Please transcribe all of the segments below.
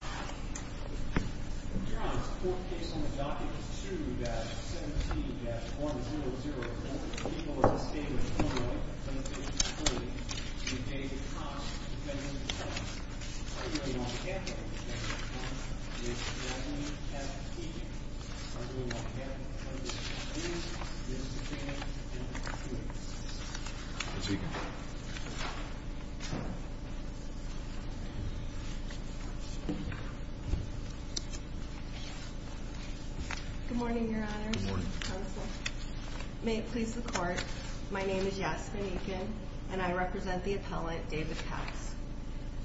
2-17-1004, the people of the state of Illinois, from the state of Detroit, to David Cox, the President of Texas, are here in Montgomery, Texas, on behalf of the state of Illinois, and we have the pleasure to introduce Mr. James M. Lewis. Good morning, Your Honors. Good morning. May it please the Court, my name is Yasmin Eakin, and I represent the appellant David Cox.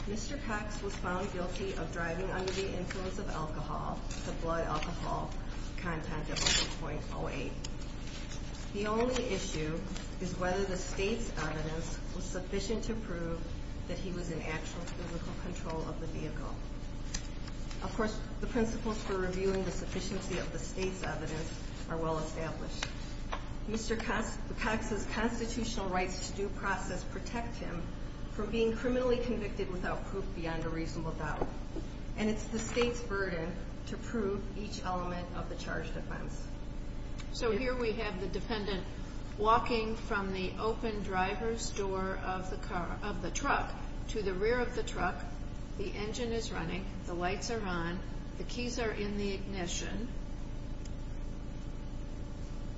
Mr. Cox was found guilty of driving under the influence of alcohol, the blood alcohol content of 0.08. The only issue is whether the state's evidence was sufficient to prove that he was in actual physical control of the vehicle. Of course, the principles for reviewing the sufficiency of the state's evidence are well established. Mr. Cox's constitutional rights to due process protect him from being criminally convicted without proof beyond a reasonable doubt, and it's the state's burden to prove each element of the charge defense. So here we have the dependent walking from the open driver's door of the truck to the rear of the truck. The engine is running, the lights are on, the keys are in the ignition.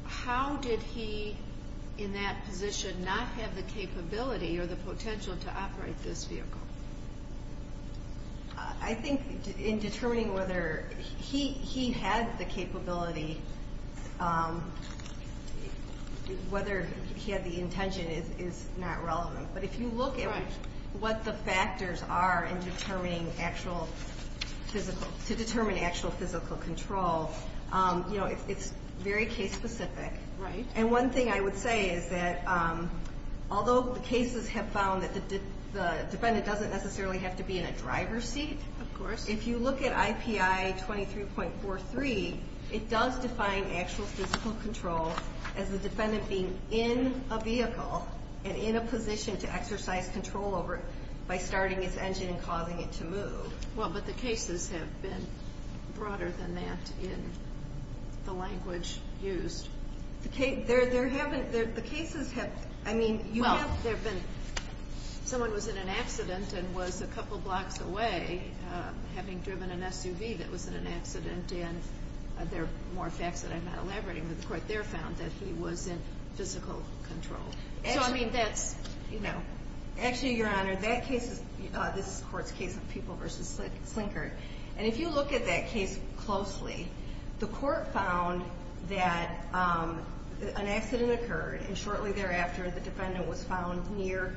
How did he, in that position, not have the capability or the potential to operate this vehicle? I think in determining whether he had the capability, whether he had the intention is not relevant. But if you look at what the factors are in determining actual physical, to determine actual physical control, you know, it's very case specific. Right. And one thing I would say is that although the cases have found that the defendant doesn't necessarily have to be in a driver's seat. Of course. If you look at IPI 23.43, it does define actual physical control as the defendant being in a vehicle and in a position to exercise control over it by starting its engine and causing it to move. Well, but the cases have been broader than that in the language used. The cases have, I mean, you have. Well, someone was in an accident and was a couple blocks away having driven an SUV that was in an accident, and there are more facts that I'm not elaborating, but the court there found that he was in physical control. So I mean, that's, you know. Actually, Your Honor, that case is this court's case of People v. Slinkard. And if you look at that case closely, the court found that an accident occurred and shortly thereafter, the defendant was found near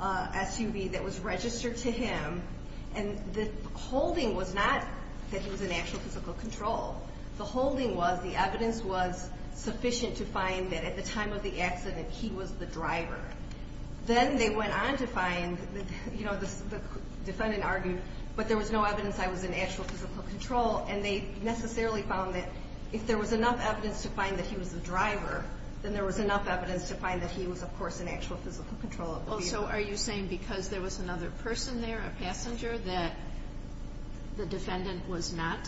a SUV that was registered to him. And the holding was not that he was in actual physical control. The holding was the evidence was sufficient to find that at the time of the accident, he was the driver. Then they went on to find, you know, the defendant argued, but there was no evidence I was in actual physical control. And they necessarily found that if there was enough evidence to find that he was the driver, then there was enough evidence to find that he was, of course, in actual physical control of the vehicle. Well, so are you saying because there was another person there, a passenger, that the defendant was not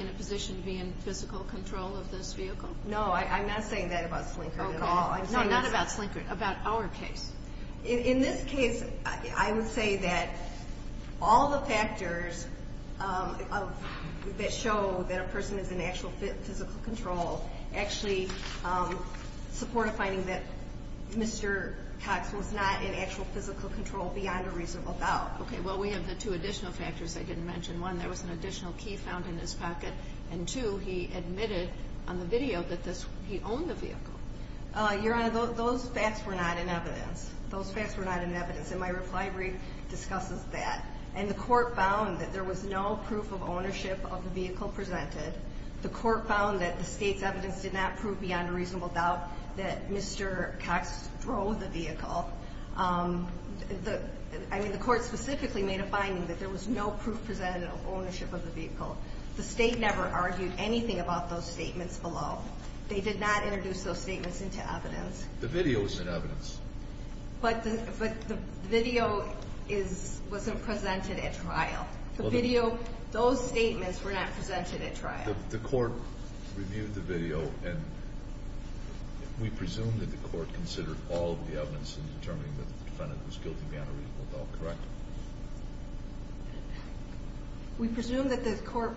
in a position to be in physical control of this vehicle? No, I'm not saying that about Slinkard at all. No, not about Slinkard, about our case. In this case, I would say that all the factors that show that a person is in actual physical control actually support a finding that Mr. Cox was not in actual physical control beyond a reasonable doubt. Okay, well, we have the two additional factors I didn't mention. One, there was an additional key found in his pocket, and two, he admitted on the video that he owned the vehicle. Your Honor, those facts were not in evidence. Those facts were not in evidence, and my reply brief discusses that. And the court found that there was no proof of ownership of the vehicle presented. The court found that the State's evidence did not prove beyond a reasonable doubt that Mr. Cox drove the vehicle. I mean, the court specifically made a finding that there was no proof presented of ownership of the vehicle. The State never argued anything about those statements below. They did not introduce those statements into evidence. The video was in evidence. But the video wasn't presented at trial. The video, those statements were not presented at trial. The court reviewed the video, and we presume that the court considered all of the evidence in determining that the defendant was guilty beyond a reasonable doubt, correct? We presume that the court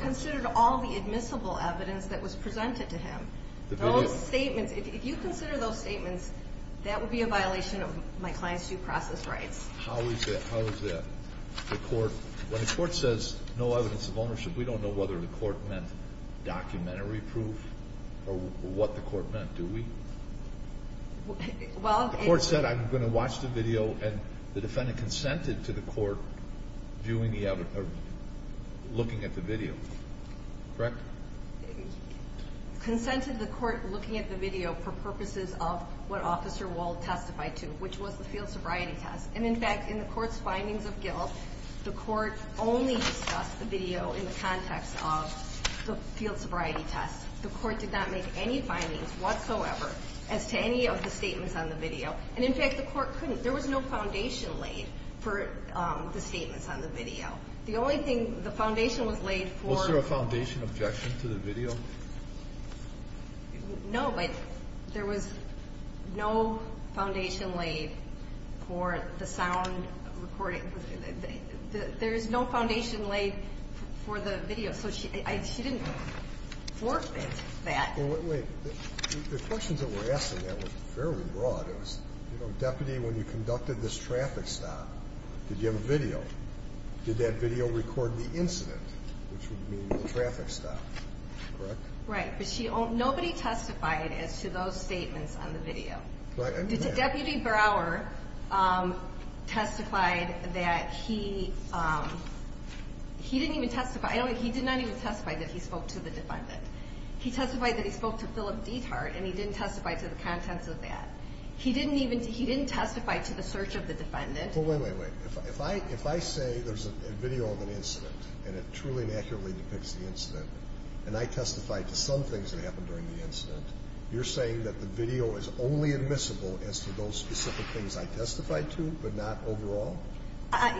considered all the admissible evidence that was presented to him. Those statements, if you consider those statements, that would be a violation of my client's due process rights. How is that? When the court says no evidence of ownership, we don't know whether the court meant documentary proof or what the court meant, do we? The court said, I'm going to watch the video, and the defendant consented to the court viewing the evidence or looking at the video, correct? Consented the court looking at the video for purposes of what Officer Wald testified to, which was the field sobriety test. And, in fact, in the court's findings of guilt, the court only discussed the video in the context of the field sobriety test. The court did not make any findings whatsoever as to any of the statements on the video. And, in fact, the court couldn't. There was no foundation laid for the statements on the video. The only thing the foundation was laid for. Was there a foundation objection to the video? No, but there was no foundation laid for the sound recording. There is no foundation laid for the video. So she didn't forfeit that. Well, wait. The questions that were asked in that were fairly broad. It was, you know, Deputy, when you conducted this traffic stop, did you have a video? Did that video record the incident, which would mean the traffic stop, correct? Right. But nobody testified as to those statements on the video. Deputy Brower testified that he didn't even testify. He did not even testify that he spoke to the defendant. He testified that he spoke to Philip Detart, and he didn't testify to the contents of that. He didn't testify to the search of the defendant. Well, wait, wait, wait. If I say there's a video of an incident and it truly and accurately depicts the incident, and I testified to some things that happened during the incident, you're saying that the video is only admissible as to those specific things I testified to but not overall?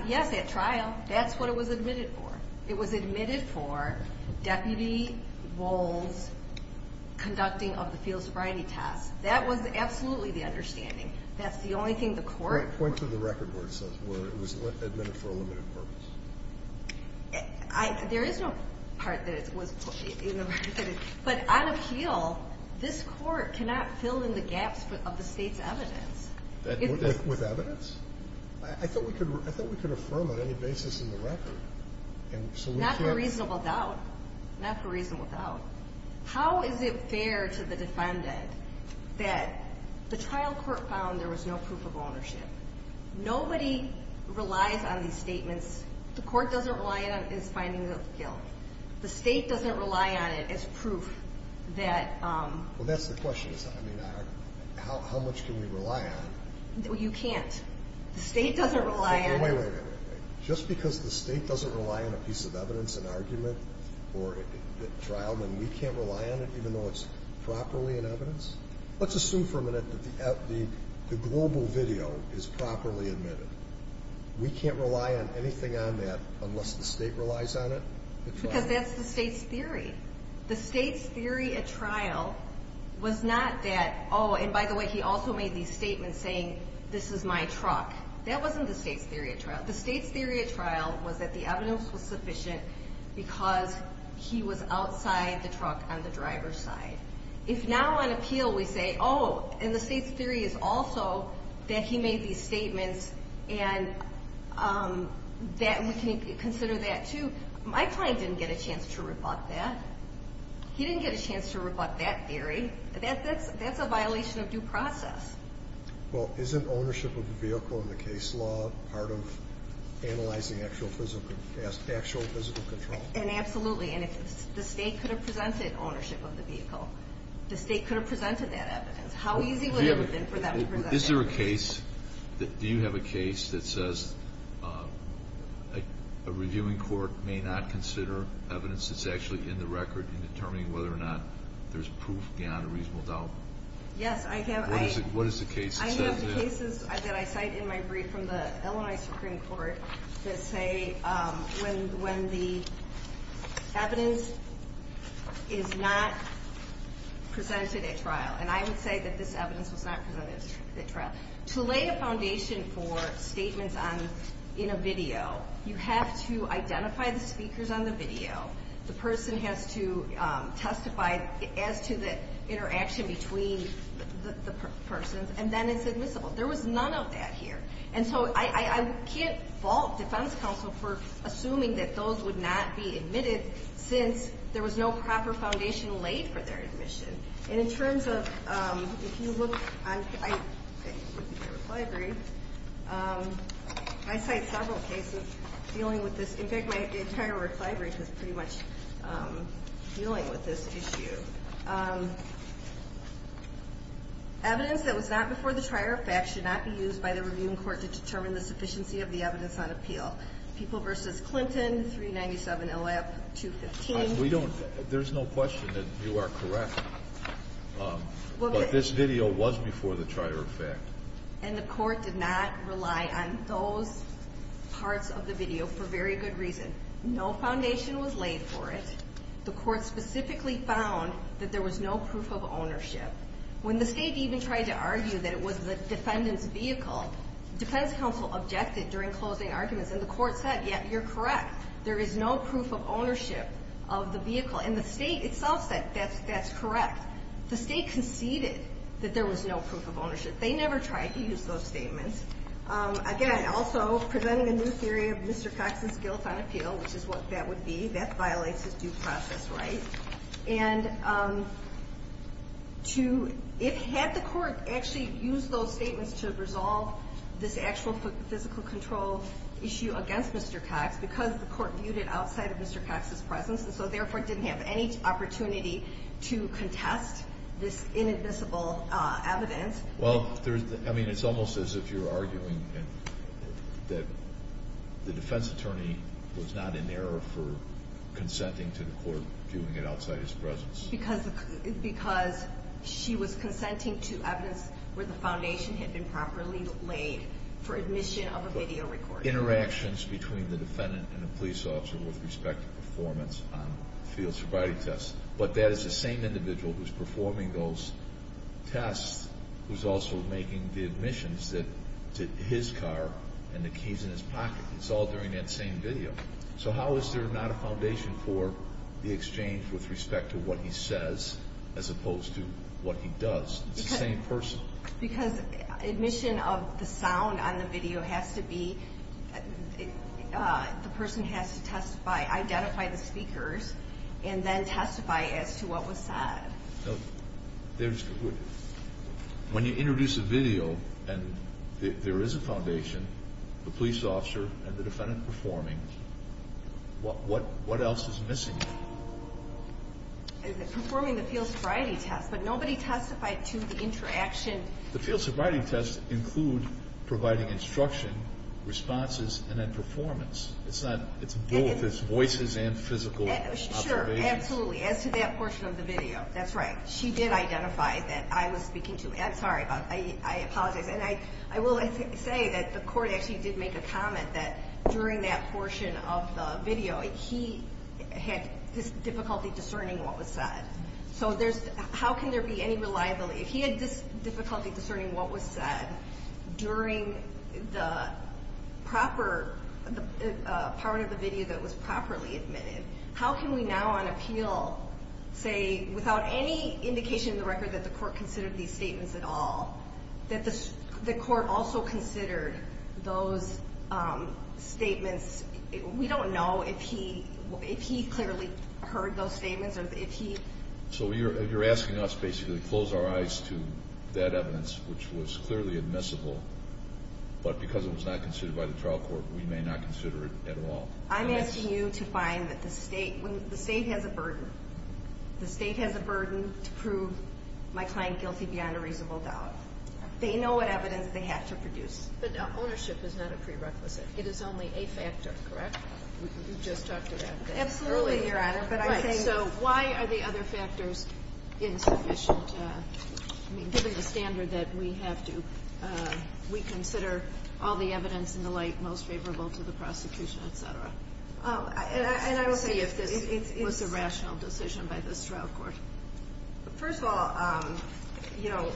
Yes, at trial. That's what it was admitted for. It was admitted for Deputy Wohl's conducting of the field sobriety test. That was absolutely the understanding. That's the only thing the court ---- Point to the record where it says it was admitted for a limited purpose. There is no part that it was in the record. But on appeal, this court cannot fill in the gaps of the State's evidence. With evidence? I thought we could affirm on any basis in the record. Not for reasonable doubt. Not for reasonable doubt. How is it fair to the defendant that the trial court found there was no proof of ownership? Nobody relies on these statements. The court doesn't rely on it as finding of guilt. The State doesn't rely on it as proof that ---- Well, that's the question. I mean, how much can we rely on? You can't. The State doesn't rely on it. Wait, wait, wait. Just because the State doesn't rely on a piece of evidence, an argument, or a trial, then we can't rely on it even though it's properly in evidence? Let's assume for a minute that the global video is properly admitted. We can't rely on anything on that unless the State relies on it? Because that's the State's theory. The State's theory at trial was not that, oh, and by the way, he also made these statements saying, this is my truck. That wasn't the State's theory at trial. The State's theory at trial was that the evidence was sufficient because he was outside the truck on the driver's side. If now on appeal we say, oh, and the State's theory is also that he made these statements and we can consider that too, my client didn't get a chance to rebut that. He didn't get a chance to rebut that theory. That's a violation of due process. Well, isn't ownership of the vehicle in the case law part of analyzing actual physical control? Absolutely, and if the State could have presented ownership of the vehicle, the State could have presented that evidence. How easy would it have been for them to present that evidence? Is there a case, do you have a case that says a reviewing court may not consider evidence that's actually in the record in determining whether or not there's proof beyond a reasonable doubt? Yes, I have. What is the case that says that? I have the cases that I cite in my brief from the Illinois Supreme Court that say when the evidence is not presented at trial, and I would say that this evidence was not presented at trial. To lay a foundation for statements in a video, you have to identify the speakers on the video, the person has to testify as to the interaction between the persons, and then it's admissible. There was none of that here. And so I can't fault defense counsel for assuming that those would not be admitted since there was no proper foundation laid for their admission. And in terms of, if you look, I look at your reply brief, I cite several cases dealing with this. In fact, my entire reply brief is pretty much dealing with this issue. Evidence that was not before the trier of facts should not be used by the reviewing court to determine the sufficiency of the evidence on appeal. People v. Clinton, 397LF215. There's no question that you are correct, but this video was before the trier of facts. And the court did not rely on those parts of the video for very good reason. No foundation was laid for it. The court specifically found that there was no proof of ownership. When the State even tried to argue that it was the defendant's vehicle, defense counsel objected during closing arguments, and the court said, There is no proof of ownership of the vehicle. And the State itself said that's correct. The State conceded that there was no proof of ownership. They never tried to use those statements. Again, also, presenting a new theory of Mr. Cox's guilt on appeal, which is what that would be, that violates his due process right. And had the court actually used those statements to resolve this actual physical control issue against Mr. Cox, because the court viewed it outside of Mr. Cox's presence, and so therefore didn't have any opportunity to contest this inadmissible evidence. Well, I mean, it's almost as if you're arguing that the defense attorney was not in error for consenting to the court viewing it outside his presence. Because she was consenting to evidence where the foundation had been properly laid for admission of a video recording. Interactions between the defendant and the police officer with respect to performance on field sobriety tests. But that is the same individual who's performing those tests who's also making the admissions to his car and the keys in his pocket. It's all during that same video. So how is there not a foundation for the exchange with respect to what he says as opposed to what he does? It's the same person. Because admission of the sound on the video has to be, the person has to testify, identify the speakers, and then testify as to what was said. When you introduce a video and there is a foundation, the police officer and the defendant performing, what else is missing? Performing the field sobriety test. But nobody testified to the interaction. The field sobriety tests include providing instruction, responses, and then performance. It's both voices and physical observation. Sure, absolutely, as to that portion of the video. That's right. She did identify that I was speaking to Ed. Sorry, I apologize. And I will say that the court actually did make a comment that during that portion of the video, he had difficulty discerning what was said. So how can there be any reliability? If he had difficulty discerning what was said during the proper part of the video that was properly admitted, how can we now on appeal say, without any indication in the record that the court considered these statements at all, that the court also considered those statements? We don't know if he clearly heard those statements. So you're asking us basically to close our eyes to that evidence, which was clearly admissible, but because it was not considered by the trial court, we may not consider it at all. I'm asking you to find that the state has a burden. My client guilty beyond a reasonable doubt. They know what evidence they have to produce. But ownership is not a prerequisite. It is only a factor, correct? You just talked about that earlier. Absolutely, Your Honor. So why are the other factors insufficient? I mean, given the standard that we have to reconsider all the evidence in the light most favorable to the prosecution, et cetera. Let's see if this was a rational decision by this trial court. First of all, you know,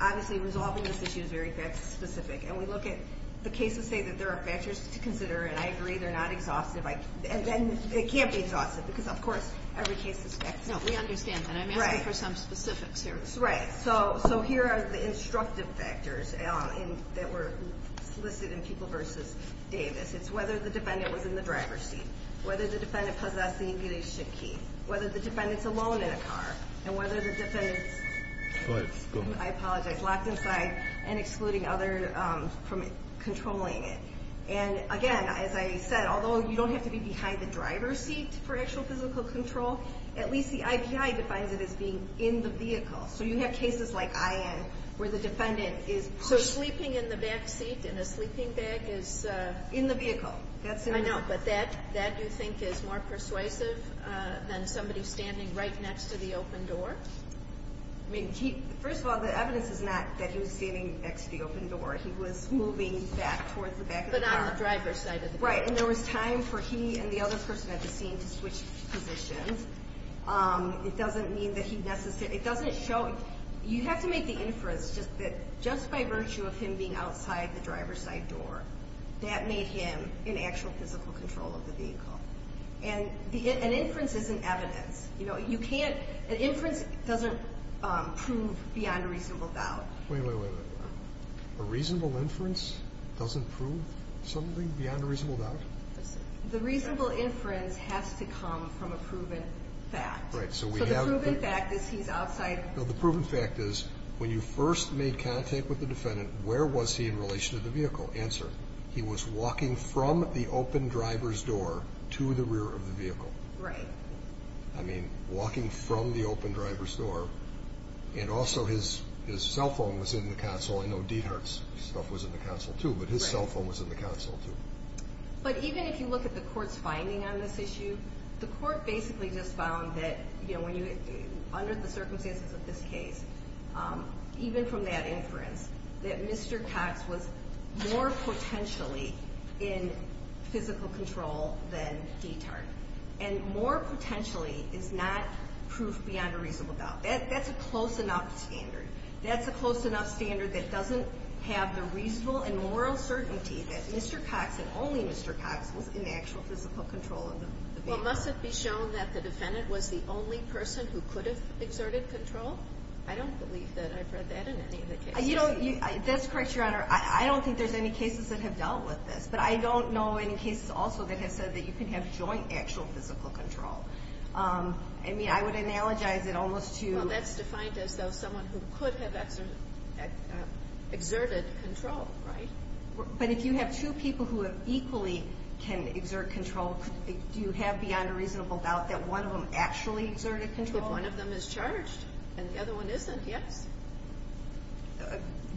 obviously resolving this issue is very fact specific, and we look at the cases say that there are factors to consider, and I agree they're not exhaustive. And it can't be exhaustive because, of course, every case is fact specific. No, we understand that. I'm asking for some specifics here. Right. So here are the instructive factors that were listed in People v. Davis. It's whether the defendant was in the driver's seat, whether the defendant possessed the incubation key, whether the defendant's alone in a car, and whether the defendant's locked inside and excluding others from controlling it. And, again, as I said, although you don't have to be behind the driver's seat for actual physical control, at least the IPI defines it as being in the vehicle. So you have cases like I.N. where the defendant is pushed. Sleeping in the back seat in a sleeping bag is? In the vehicle. I know, but that you think is more persuasive than somebody standing right next to the open door? I mean, first of all, the evidence is not that he was standing next to the open door. He was moving back towards the back of the car. But on the driver's side of the car. Right. And there was time for he and the other person at the scene to switch positions. It doesn't mean that he necessarily – it doesn't show – you have to make the inference that just by virtue of him being outside the driver's side door, that made him in actual physical control of the vehicle. And an inference isn't evidence. You know, you can't – an inference doesn't prove beyond a reasonable doubt. Wait, wait, wait. A reasonable inference doesn't prove something beyond a reasonable doubt? The reasonable inference has to come from a proven fact. Right. So the proven fact is he's outside. The proven fact is when you first made contact with the defendant, where was he in relation to the vehicle? Answer. He was walking from the open driver's door to the rear of the vehicle. Right. I mean, walking from the open driver's door. And also his cell phone was in the console. I know Diethard's stuff was in the console too, but his cell phone was in the console too. But even if you look at the court's finding on this issue, the court basically just found that, you know, under the circumstances of this case, even from that inference, that Mr. Cox was more potentially in physical control than Diethard. And more potentially is not proof beyond a reasonable doubt. That's a close enough standard. That's a close enough standard that doesn't have the reasonable and moral certainty that Mr. Cox and only Mr. Cox was in actual physical control of the vehicle. Well, must it be shown that the defendant was the only person who could have exerted control? I don't believe that I've read that in any of the cases. That's correct, Your Honor. I don't think there's any cases that have dealt with this. But I don't know any cases also that have said that you can have joint actual physical control. I mean, I would analogize it almost to you. Well, that's defined as someone who could have exerted control, right? But if you have two people who equally can exert control, do you have beyond a reasonable doubt that one of them actually exerted control? If one of them is charged and the other one isn't, yes.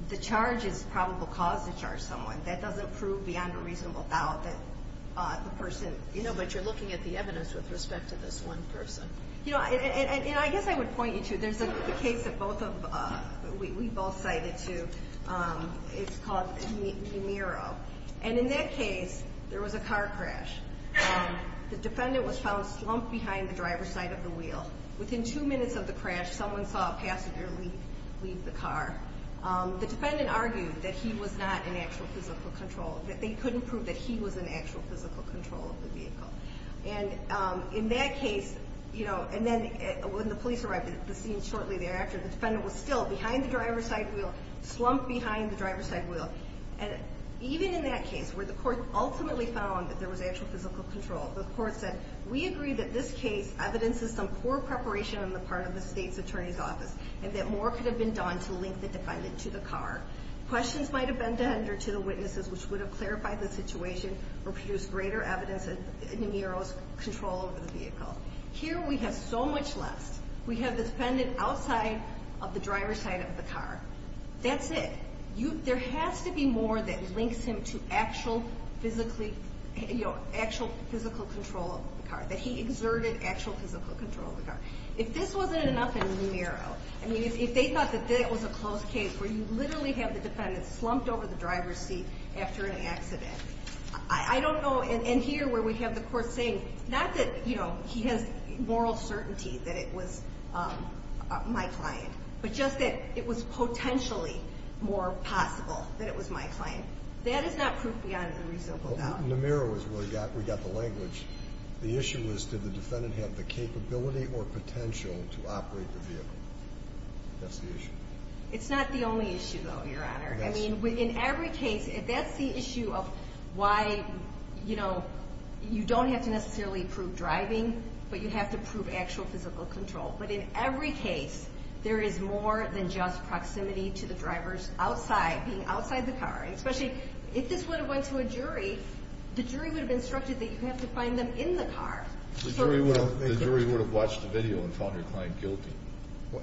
The charge is probable cause to charge someone. That doesn't prove beyond a reasonable doubt that the person is. No, but you're looking at the evidence with respect to this one person. You know, and I guess I would point you to, there's a case that both of, we both cited to, it's called Nemiro. And in that case, there was a car crash. The defendant was found slumped behind the driver's side of the wheel. Within two minutes of the crash, someone saw a passenger leave the car. The defendant argued that he was not in actual physical control, that they couldn't prove that he was in actual physical control of the vehicle. And in that case, you know, and then when the police arrived shortly thereafter, the defendant was still behind the driver's side wheel, slumped behind the driver's side wheel. And even in that case, where the court ultimately found that there was actual physical control, the court said, we agree that this case evidences some poor preparation on the part of the State's Attorney's Office and that more could have been done to link the defendant to the car. Questions might have been to the witnesses which would have clarified the situation or produced greater evidence of Nemiro's control over the vehicle. Here we have so much less. We have the defendant outside of the driver's side of the car. That's it. There has to be more that links him to actual physical control of the car, that he exerted actual physical control of the car. If this wasn't enough in Nemiro, I mean, if they thought that that was a close case where you literally have the defendant slumped over the driver's seat after an accident, I don't know, and here where we have the court saying, not that, you know, he has moral certainty that it was my client, but just that it was potentially more possible that it was my client. That is not proof beyond the reasonable doubt. In Nemiro is where we got the language. The issue was did the defendant have the capability or potential to operate the vehicle. That's the issue. It's not the only issue, though, Your Honor. Yes. I mean, in every case, that's the issue of why, you know, you don't have to necessarily prove driving, but you have to prove actual physical control. But in every case, there is more than just proximity to the drivers outside, being outside the car, and especially if this would have went to a jury, the jury would have instructed that you have to find them in the car. The jury would have watched the video and found your client guilty.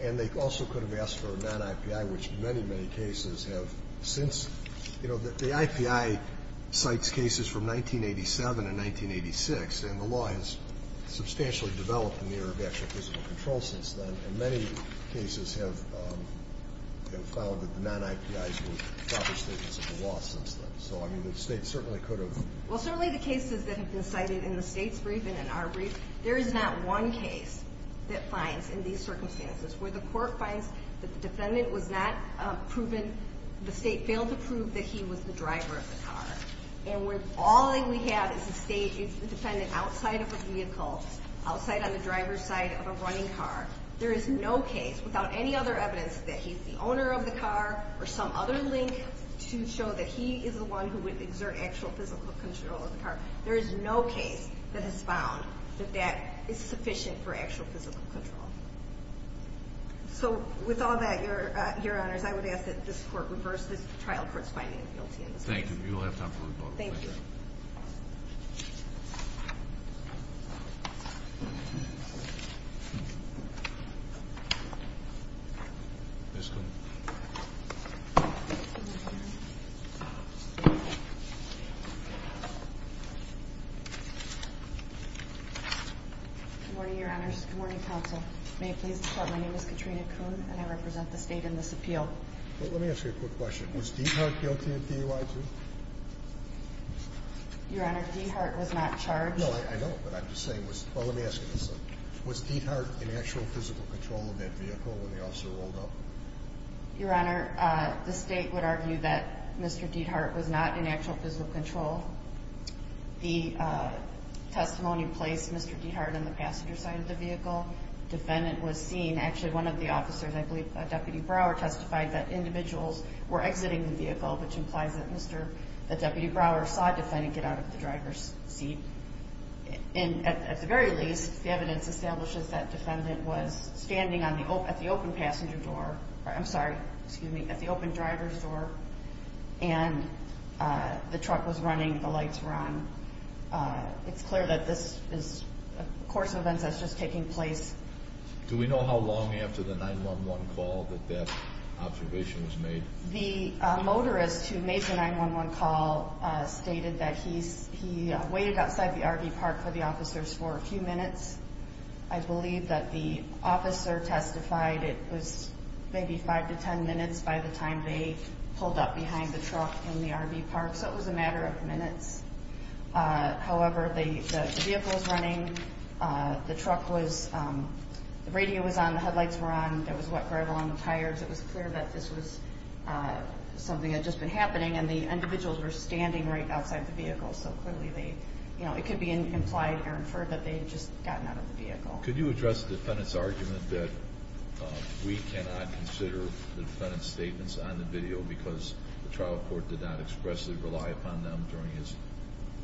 And they also could have asked for a non-IPI, which many, many cases have since. You know, the IPI cites cases from 1987 and 1986, and the law has substantially developed in the area of actual physical control since then. And many cases have found that the non-IPIs were proper statements of the law since then. So, I mean, the State certainly could have. Well, certainly the cases that have been cited in the State's brief and in our brief, there is not one case that finds in these circumstances where the court finds that the defendant was not proven, the State failed to prove that he was the driver of the car. And all that we have is a State defendant outside of a vehicle, outside on the driver's side of a running car. There is no case without any other evidence that he's the owner of the car or some other link to show that he is the one who would exert actual physical control of the car. There is no case that has found that that is sufficient for actual physical control. So, with all that, Your Honors, I would ask that this Court reverse this trial for its finding of guilty in this case. Thank you. You'll have time for rebuttal. Thank you. Ms. Kuhn. Good morning, Your Honors. Good morning, Counsel. May it please the Court, my name is Katrina Kuhn, and I represent the State in this appeal. Let me ask you a quick question. Was Diethard guilty of DUI, too? Your Honor, Diethard was not charged. No, I know, but I'm just saying, well, let me ask you this. Was Diethard in actual physical control of that vehicle when the officer rolled up? Your Honor, the State would argue that Mr. Diethard was not in actual physical control. The testimony placed Mr. Diethard on the passenger side of the vehicle. Defendant was seen. Actually, one of the officers, I believe Deputy Brower, testified that individuals were exiting the vehicle, which implies that Deputy Brower saw Defendant get out of the driver's seat. At the very least, the evidence establishes that Defendant was standing at the open passenger door, I'm sorry, excuse me, at the open driver's door, and the truck was running, the lights were on. It's clear that this is a course of events that's just taking place. Do we know how long after the 911 call that that observation was made? The motorist who made the 911 call stated that he waited outside the RV park for the officers for a few minutes. I believe that the officer testified it was maybe 5 to 10 minutes by the time they pulled up behind the truck in the RV park, so it was a matter of minutes. However, the vehicle was running, the truck was, the radio was on, the headlights were on, there was wet gravel on the tires, it was clear that this was something that had just been happening, and the individuals were standing right outside the vehicle, so clearly they, you know, it could be implied or inferred that they had just gotten out of the vehicle. Could you address Defendant's argument that we cannot consider the Defendant's statements on the video because the trial court did not expressly rely upon them during his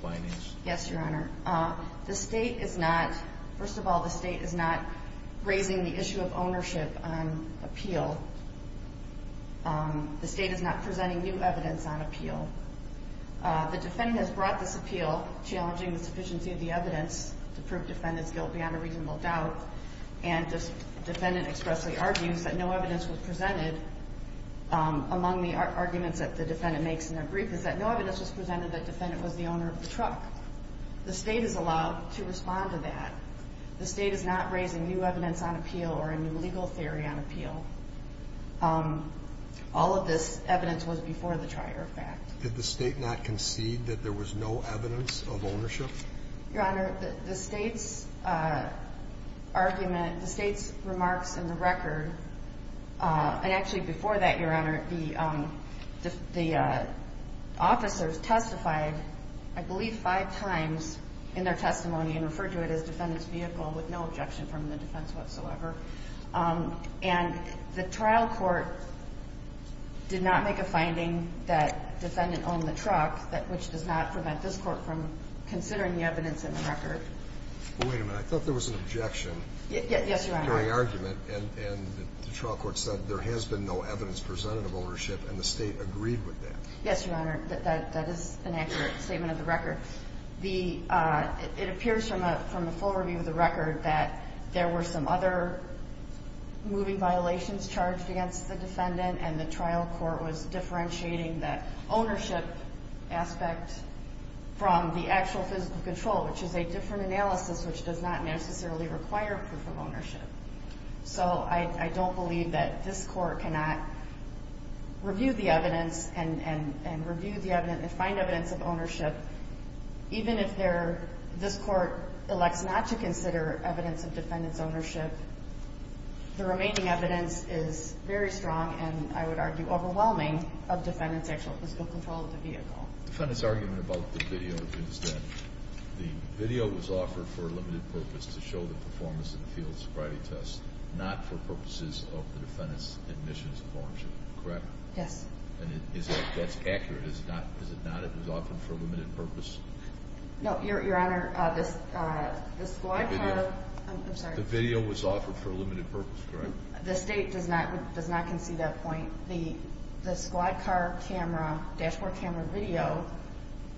findings? Yes, Your Honor. The State is not, first of all, the State is not raising the issue of ownership on appeal. The State is not presenting new evidence on appeal. The Defendant has brought this appeal challenging the sufficiency of the evidence to prove Defendant's guilt beyond a reasonable doubt, and the Defendant expressly argues that no evidence was presented, among the arguments that the Defendant makes in their brief, is that no evidence was presented that the Defendant was the owner of the truck. The State is allowed to respond to that. The State is not raising new evidence on appeal or a new legal theory on appeal. All of this evidence was before the trial, in fact. Did the State not concede that there was no evidence of ownership? Your Honor, the State's argument, the State's remarks in the record, and actually before that, Your Honor, the officers testified I believe five times in their testimony and referred to it as Defendant's vehicle with no objection from the defense whatsoever. And the trial court did not make a finding that Defendant owned the truck, which does not prevent this Court from considering the evidence in the record. Wait a minute. I thought there was an objection. Yes, Your Honor. During argument, and the trial court said there has been no evidence presented of ownership, and the State agreed with that. Yes, Your Honor. That is an accurate statement of the record. It appears from the full review of the record that there were some other moving violations charged against the Defendant, and the trial court was differentiating that ownership aspect from the actual physical control, which is a different analysis which does not necessarily require proof of ownership. So I don't believe that this Court cannot review the evidence and find evidence of ownership, even if this Court elects not to consider evidence of Defendant's ownership. The remaining evidence is very strong, and I would argue overwhelming, of Defendant's actual physical control of the vehicle. Defendant's argument about the video is that the video was offered for a limited purpose to show the performance of the field sobriety test, not for purposes of the Defendant's admission of ownership. Correct? Yes. And that's accurate. Is it not? It was offered for a limited purpose? No, Your Honor. The video was offered for a limited purpose, correct? The State does not concede that point. The squad car dashboard camera video,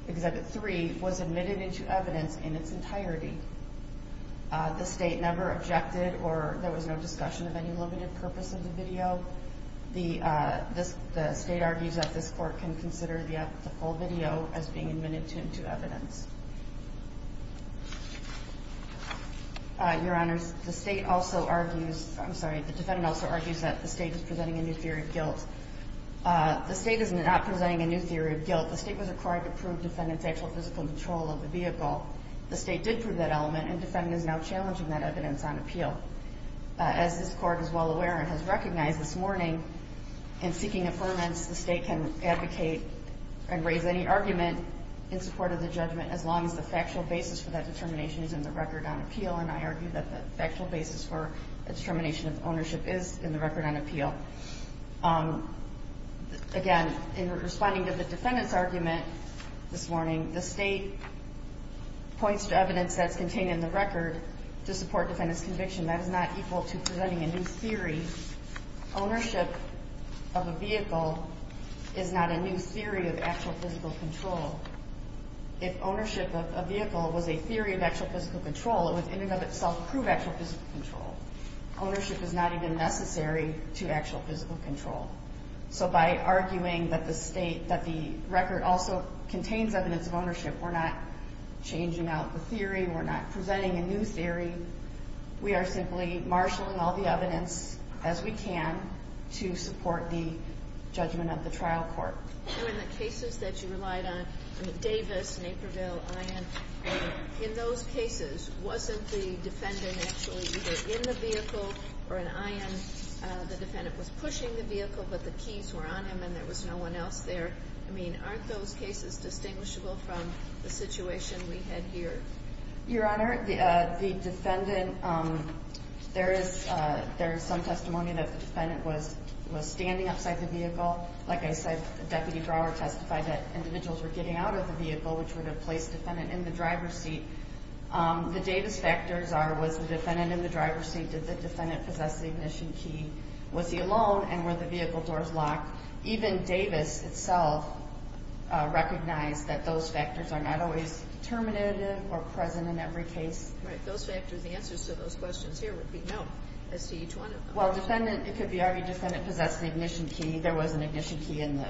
Exhibit 3, was admitted into evidence in its entirety. The State never objected, or there was no discussion of any limited purpose of the video. The State argues that this Court can consider the full video as being admitted into evidence. Your Honors, the State also argues, I'm sorry, the Defendant also argues that the State is presenting a new theory of guilt. The State is not presenting a new theory of guilt. The State was required to prove Defendant's actual physical control of the vehicle. The State did prove that element, and Defendant is now challenging that evidence on appeal. As this Court is well aware and has recognized this morning, in seeking affirmance, the State can advocate and raise any argument in support of the judgment, as long as the factual basis for that determination is in the record on appeal. And I argue that the factual basis for the determination of ownership is in the record on appeal. Again, in responding to the Defendant's argument this morning, the State points to evidence that's contained in the record to support Defendant's conviction. That is not equal to presenting a new theory. Ownership of a vehicle is not a new theory of actual physical control. If ownership of a vehicle was a theory of actual physical control, it would in and of itself prove actual physical control. Ownership is not even necessary to actual physical control. So by arguing that the State, that the record also contains evidence of ownership, we're not changing out the theory, we're not presenting a new theory. We are simply marshalling all the evidence as we can to support the judgment of the trial court. In the cases that you relied on, Davis, Naperville, Ion, in those cases, wasn't the Defendant actually either in the vehicle or in Ion? The Defendant was pushing the vehicle, but the keys were on him and there was no one else there. I mean, aren't those cases distinguishable from the situation we had here? Your Honor, the Defendant, there is some testimony that the Defendant was standing outside the vehicle. Like I said, the deputy drawer testified that individuals were getting out of the vehicle, which would have placed the Defendant in the driver's seat. The Davis factors are, was the Defendant in the driver's seat? Did the Defendant possess the ignition key? Was he alone and were the vehicle doors locked? Even Davis itself recognized that those factors are not always determinative or present in every case. Right. Those factors, the answers to those questions here would be no as to each one of them. Well, the Defendant, it could be argued the Defendant possessed the ignition key. There was an ignition key in the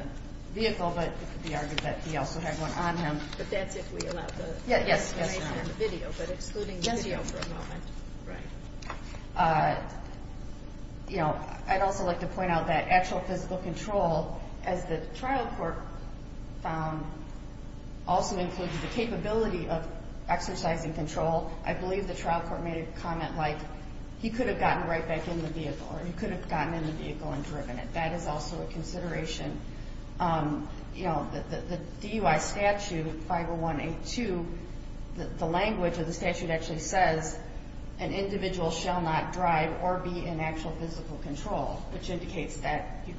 vehicle, but it could be argued that he also had one on him. But that's if we allow the video, but excluding the video for a moment. Yes, Your Honor. Right. You know, I'd also like to point out that actual physical control, as the trial court found, also includes the capability of exercising control. I believe the trial court made a comment like he could have gotten right back in the vehicle or he could have gotten in the vehicle and driven it. That is also a consideration. You know, the DUI statute, 501A2, the language of the statute actually says an individual shall not drive or be in actual physical control, which indicates that you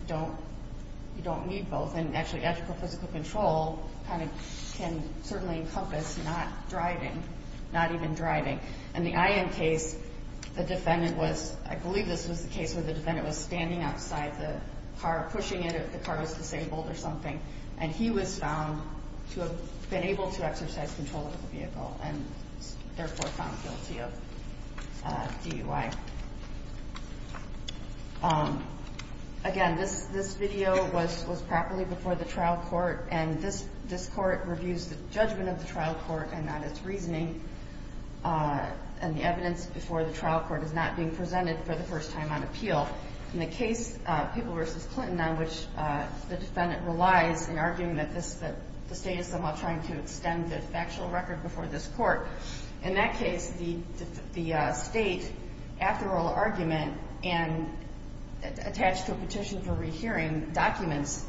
don't need both. And actually, actual physical control kind of can certainly encompass not driving, not even driving. In the IM case, the Defendant was, I believe this was the case where the Defendant was standing outside the car, pushing it if the car was disabled or something, and he was found to have been able to exercise control of the vehicle and therefore found guilty of DUI. Again, this video was properly before the trial court, and this court reviews the judgment of the trial court and not its reasoning, and the evidence before the trial court is not being presented for the first time on appeal. In the case, Papal v. Clinton, on which the Defendant relies, in arguing that the State is somehow trying to extend the factual record before this court, in that case, the State, after oral argument, and attached to a petition for rehearing documents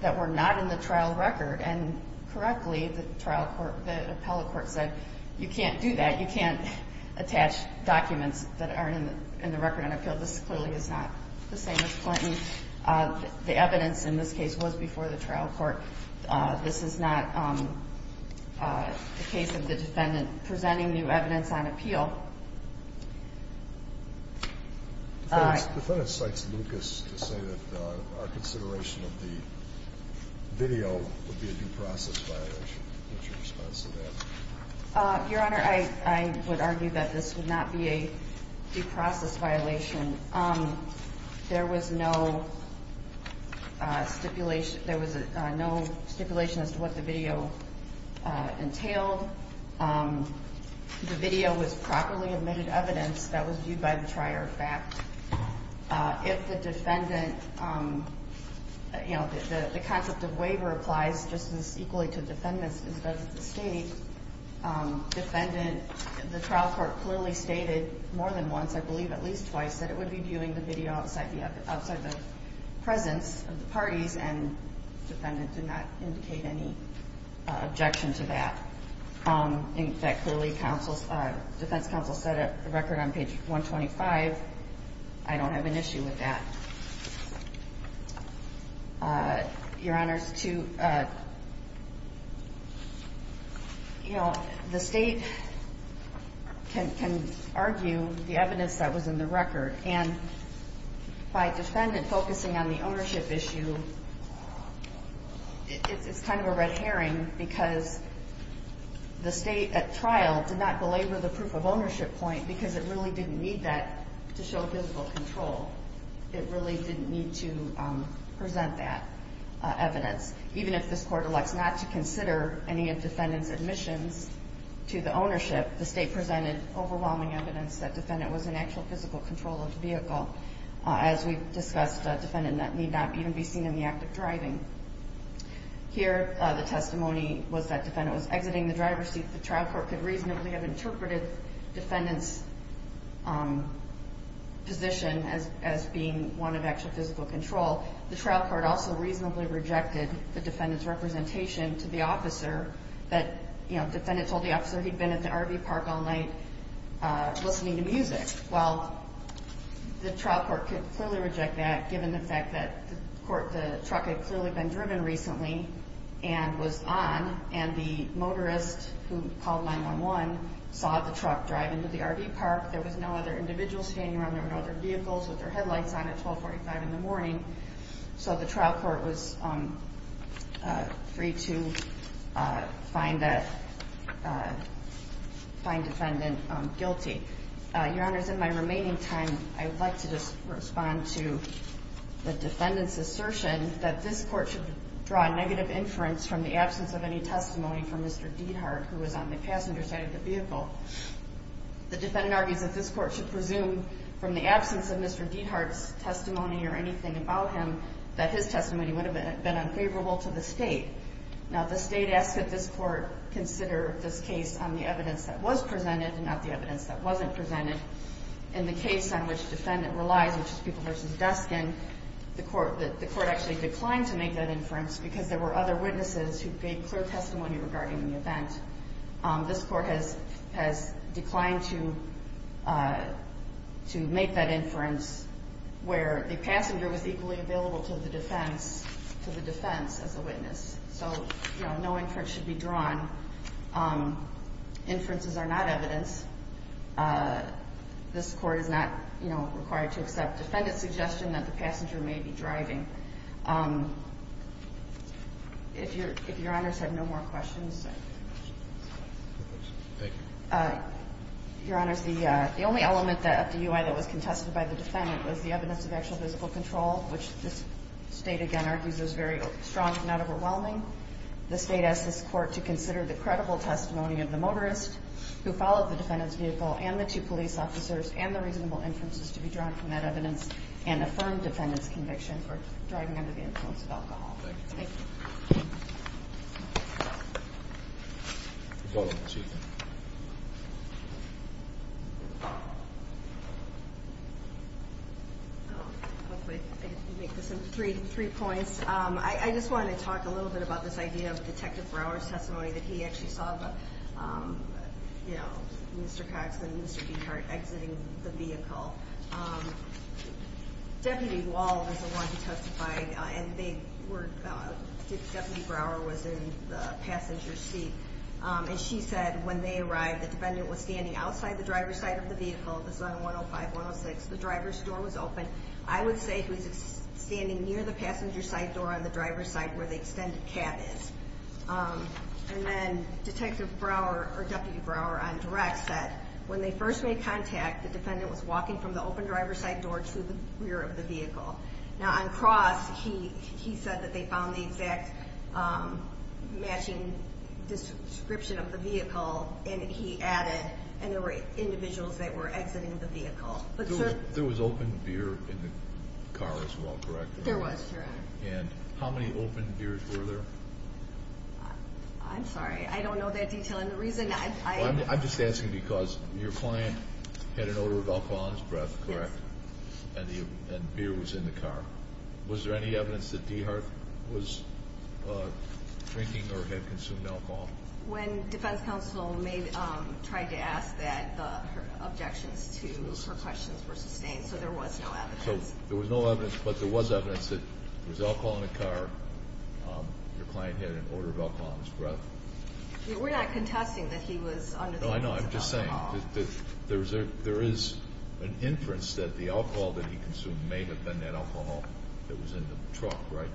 that were not in the trial record, and correctly, the trial court, the appellate court said, you can't do that. You can't attach documents that aren't in the record on appeal. This clearly is not the same as Clinton. The evidence in this case was before the trial court. This is not the case of the Defendant presenting new evidence on appeal. The Defendant cites Lucas to say that our consideration of the video would be a due process violation. What's your response to that? Your Honor, I would argue that this would not be a due process violation. There was no stipulation as to what the video entailed. The video was properly admitted evidence that was viewed by the trier of fact. If the Defendant, you know, the concept of waiver applies just as equally to defendants as does the State. Defendant, the trial court clearly stated more than once, I believe at least twice, that it would be viewing the video outside the presence of the parties, and the Defendant did not indicate any objection to that. In fact, clearly defense counsel set a record on page 125. I don't have an issue with that. Your Honor, the State can argue the evidence that was in the record, and by Defendant focusing on the ownership issue, it's kind of a red herring because the State at trial did not belabor the proof of ownership point because it really didn't need that to show visible control. It really didn't need to present that evidence. Even if this Court elects not to consider any of Defendant's admissions to the ownership, the State presented overwhelming evidence that Defendant was in actual physical control of the vehicle. As we've discussed, Defendant need not even be seen in the act of driving. Here, the testimony was that Defendant was exiting the driver's seat. The trial court could reasonably have interpreted Defendant's position as being one of actual physical control. The trial court also reasonably rejected the Defendant's representation to the officer that Defendant told the officer he'd been at the RV park all night listening to music. Well, the trial court could clearly reject that given the fact that the truck had clearly been driven recently and was on, and the motorist who called 911 saw the truck drive into the RV park. There was no other individuals standing around. There were no other vehicles with their headlights on at 1245 in the morning. So the trial court was free to find Defendant guilty. Your Honors, in my remaining time, I would like to just respond to the Defendant's assertion that this court should draw negative inference from the absence of any testimony from Mr. Diethard, who was on the passenger side of the vehicle. The Defendant argues that this court should presume from the absence of Mr. Diethard's testimony or anything about him that his testimony would have been unfavorable to the State. Now, the State asks that this court consider this case on the evidence that was presented and not the evidence that wasn't presented. In the case on which Defendant relies, which is Pupil v. Duskin, the court actually declined to make that inference because there were other witnesses who gave clear testimony regarding the event. This court has declined to make that inference where the passenger was equally available to the defense as a witness. So no inference should be drawn. Inferences are not evidence. This Court is not, you know, required to accept Defendant's suggestion that the passenger may be driving. If Your Honors have no more questions. Thank you. Your Honors, the only element of the UI that was contested by the Defendant was the evidence of actual physical control, which this State, again, argues is very strong and not overwhelming. The State asks this Court to consider the credible testimony of the motorist who followed the Defendant's vehicle, and the two police officers, and the reasonable inferences to be drawn from that evidence and affirm Defendant's conviction for driving under the influence of alcohol. Thank you. I'll make this into three points. I just wanted to talk a little bit about this idea of Detective Brower's testimony that he actually saw, you know, Mr. Cox and Mr. Dehart exiting the vehicle. Deputy Wall was the one who testified, and Deputy Brower was in the passenger's seat. And she said when they arrived, the Defendant was standing outside the driver's side of the vehicle. This is on 105-106. The driver's door was open. I would say he was standing near the passenger side door on the driver's side where the extended cab is. And then Detective Brower or Deputy Brower on direct said when they first made contact, the Defendant was walking from the open driver's side door to the rear of the vehicle. Now, on cross, he said that they found the exact matching description of the vehicle, and he added, and there were individuals that were exiting the vehicle. There was open beer in the car as well, correct? There was, Your Honor. And how many open beers were there? I'm sorry. I don't know that detail, and the reason I'm— I'm just asking because your client had an odor of alcohol in his breath, correct? Yes. And beer was in the car. Was there any evidence that Dehart was drinking or had consumed alcohol? When defense counsel tried to ask that, her objections to her questions were sustained, so there was no evidence. So there was no evidence, but there was evidence that there was alcohol in the car. Your client had an odor of alcohol in his breath. We're not contesting that he was under the influence of alcohol. No, I know. I'm just saying that there is an inference that the alcohol that he consumed may have been that alcohol that was in the truck, right?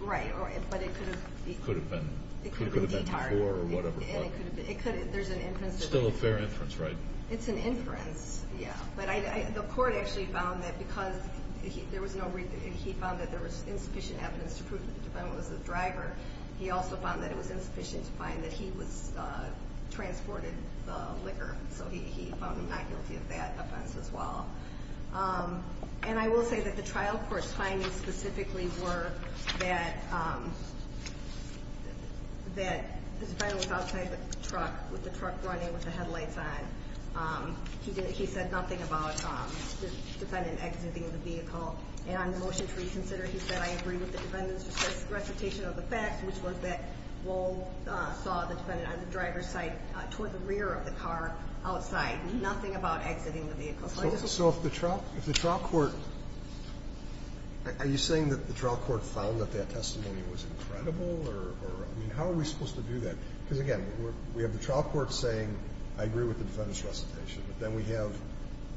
Right, but it could have been. It could have been. It could have been Dehart. It could have been before or whatever. And it could have been. There's an inference. It's still a fair inference, right? It's an inference, yeah. But the court actually found that because he found that there was insufficient evidence to prove that the defendant was the driver, he also found that it was insufficient to find that he transported the liquor. So he found him not guilty of that offense as well. And I will say that the trial court's findings specifically were that the defendant was outside the truck with the truck running with the headlights on. He said nothing about the defendant exiting the vehicle. And on the motion to reconsider, he said, I agree with the defendant's recitation of the facts, which was that Wohl saw the defendant on the driver's side toward the rear of the car outside. Nothing about exiting the vehicle. So if the trial court – are you saying that the trial court found that that testimony was incredible? I mean, how are we supposed to do that? Because, again, we have the trial court saying, I agree with the defendant's recitation. But then we have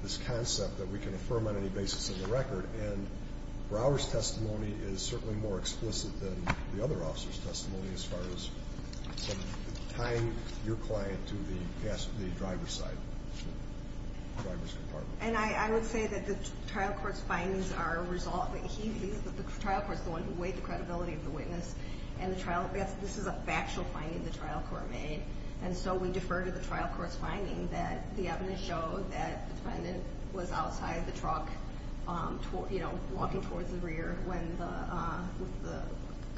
this concept that we can affirm on any basis of the record. And Brower's testimony is certainly more explicit than the other officers' testimony as far as tying your client to the driver's side, the driver's compartment. And I would say that the trial court's findings are a result – the trial court's the one who weighed the credibility of the witness. And the trial – this is a factual finding the trial court made. And so we defer to the trial court's finding that the evidence showed that the defendant was outside the truck, you know, walking towards the rear with the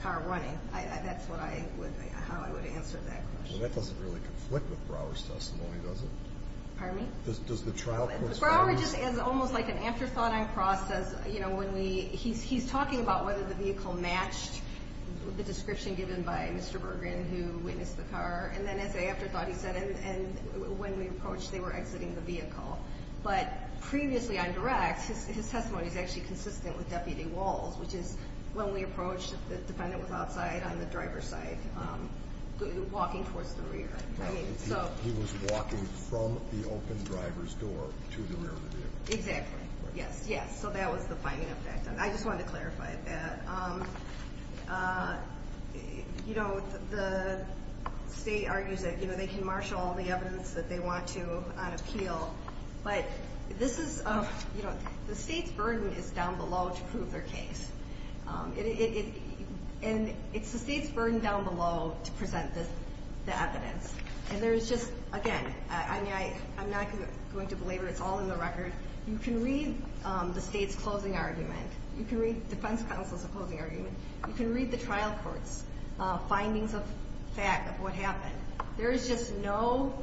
car running. That's what I would – how I would answer that question. That doesn't really conflict with Brower's testimony, does it? Pardon me? Does the trial court's findings – The description given by Mr. Bergen, who witnessed the car. And then as I afterthought, he said, and when we approached, they were exiting the vehicle. But previously on direct, his testimony is actually consistent with Deputy Wall's, which is when we approached, the defendant was outside on the driver's side, walking towards the rear. He was walking from the open driver's door to the rear of the vehicle. Exactly. Yes, yes. So that was the finding of that. I just wanted to clarify that. You know, the state argues that, you know, they can marshal all the evidence that they want to on appeal. But this is – you know, the state's burden is down below to prove their case. And it's the state's burden down below to present the evidence. And there is just – again, I'm not going to belabor. It's all in the record. You can read the state's closing argument. You can read defense counsel's closing argument. You can read the trial court's findings of fact, of what happened. There is just no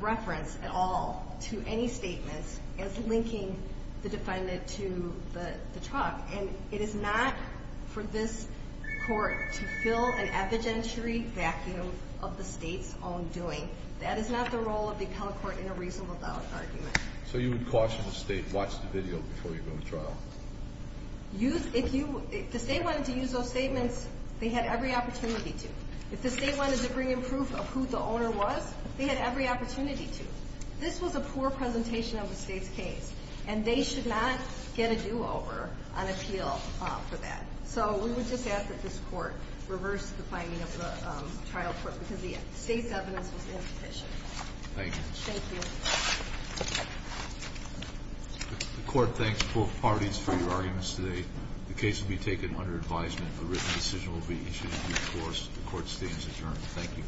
reference at all to any statements as linking the defendant to the truck. And it is not for this court to fill an evidentiary vacuum of the state's own doing. That is not the role of the appellate court in a reasonable doubt argument. So you would caution the state, watch the video before you go to trial? If the state wanted to use those statements, they had every opportunity to. If the state wanted to bring in proof of who the owner was, they had every opportunity to. This was a poor presentation of the state's case. And they should not get a do-over on appeal for that. So we would just ask that this court reverse the finding of the trial court because the state's evidence was insufficient. Thank you. The court thanks both parties for your arguments today. The case will be taken under advisement. A written decision will be issued in due course. The court stands adjourned. Thank you.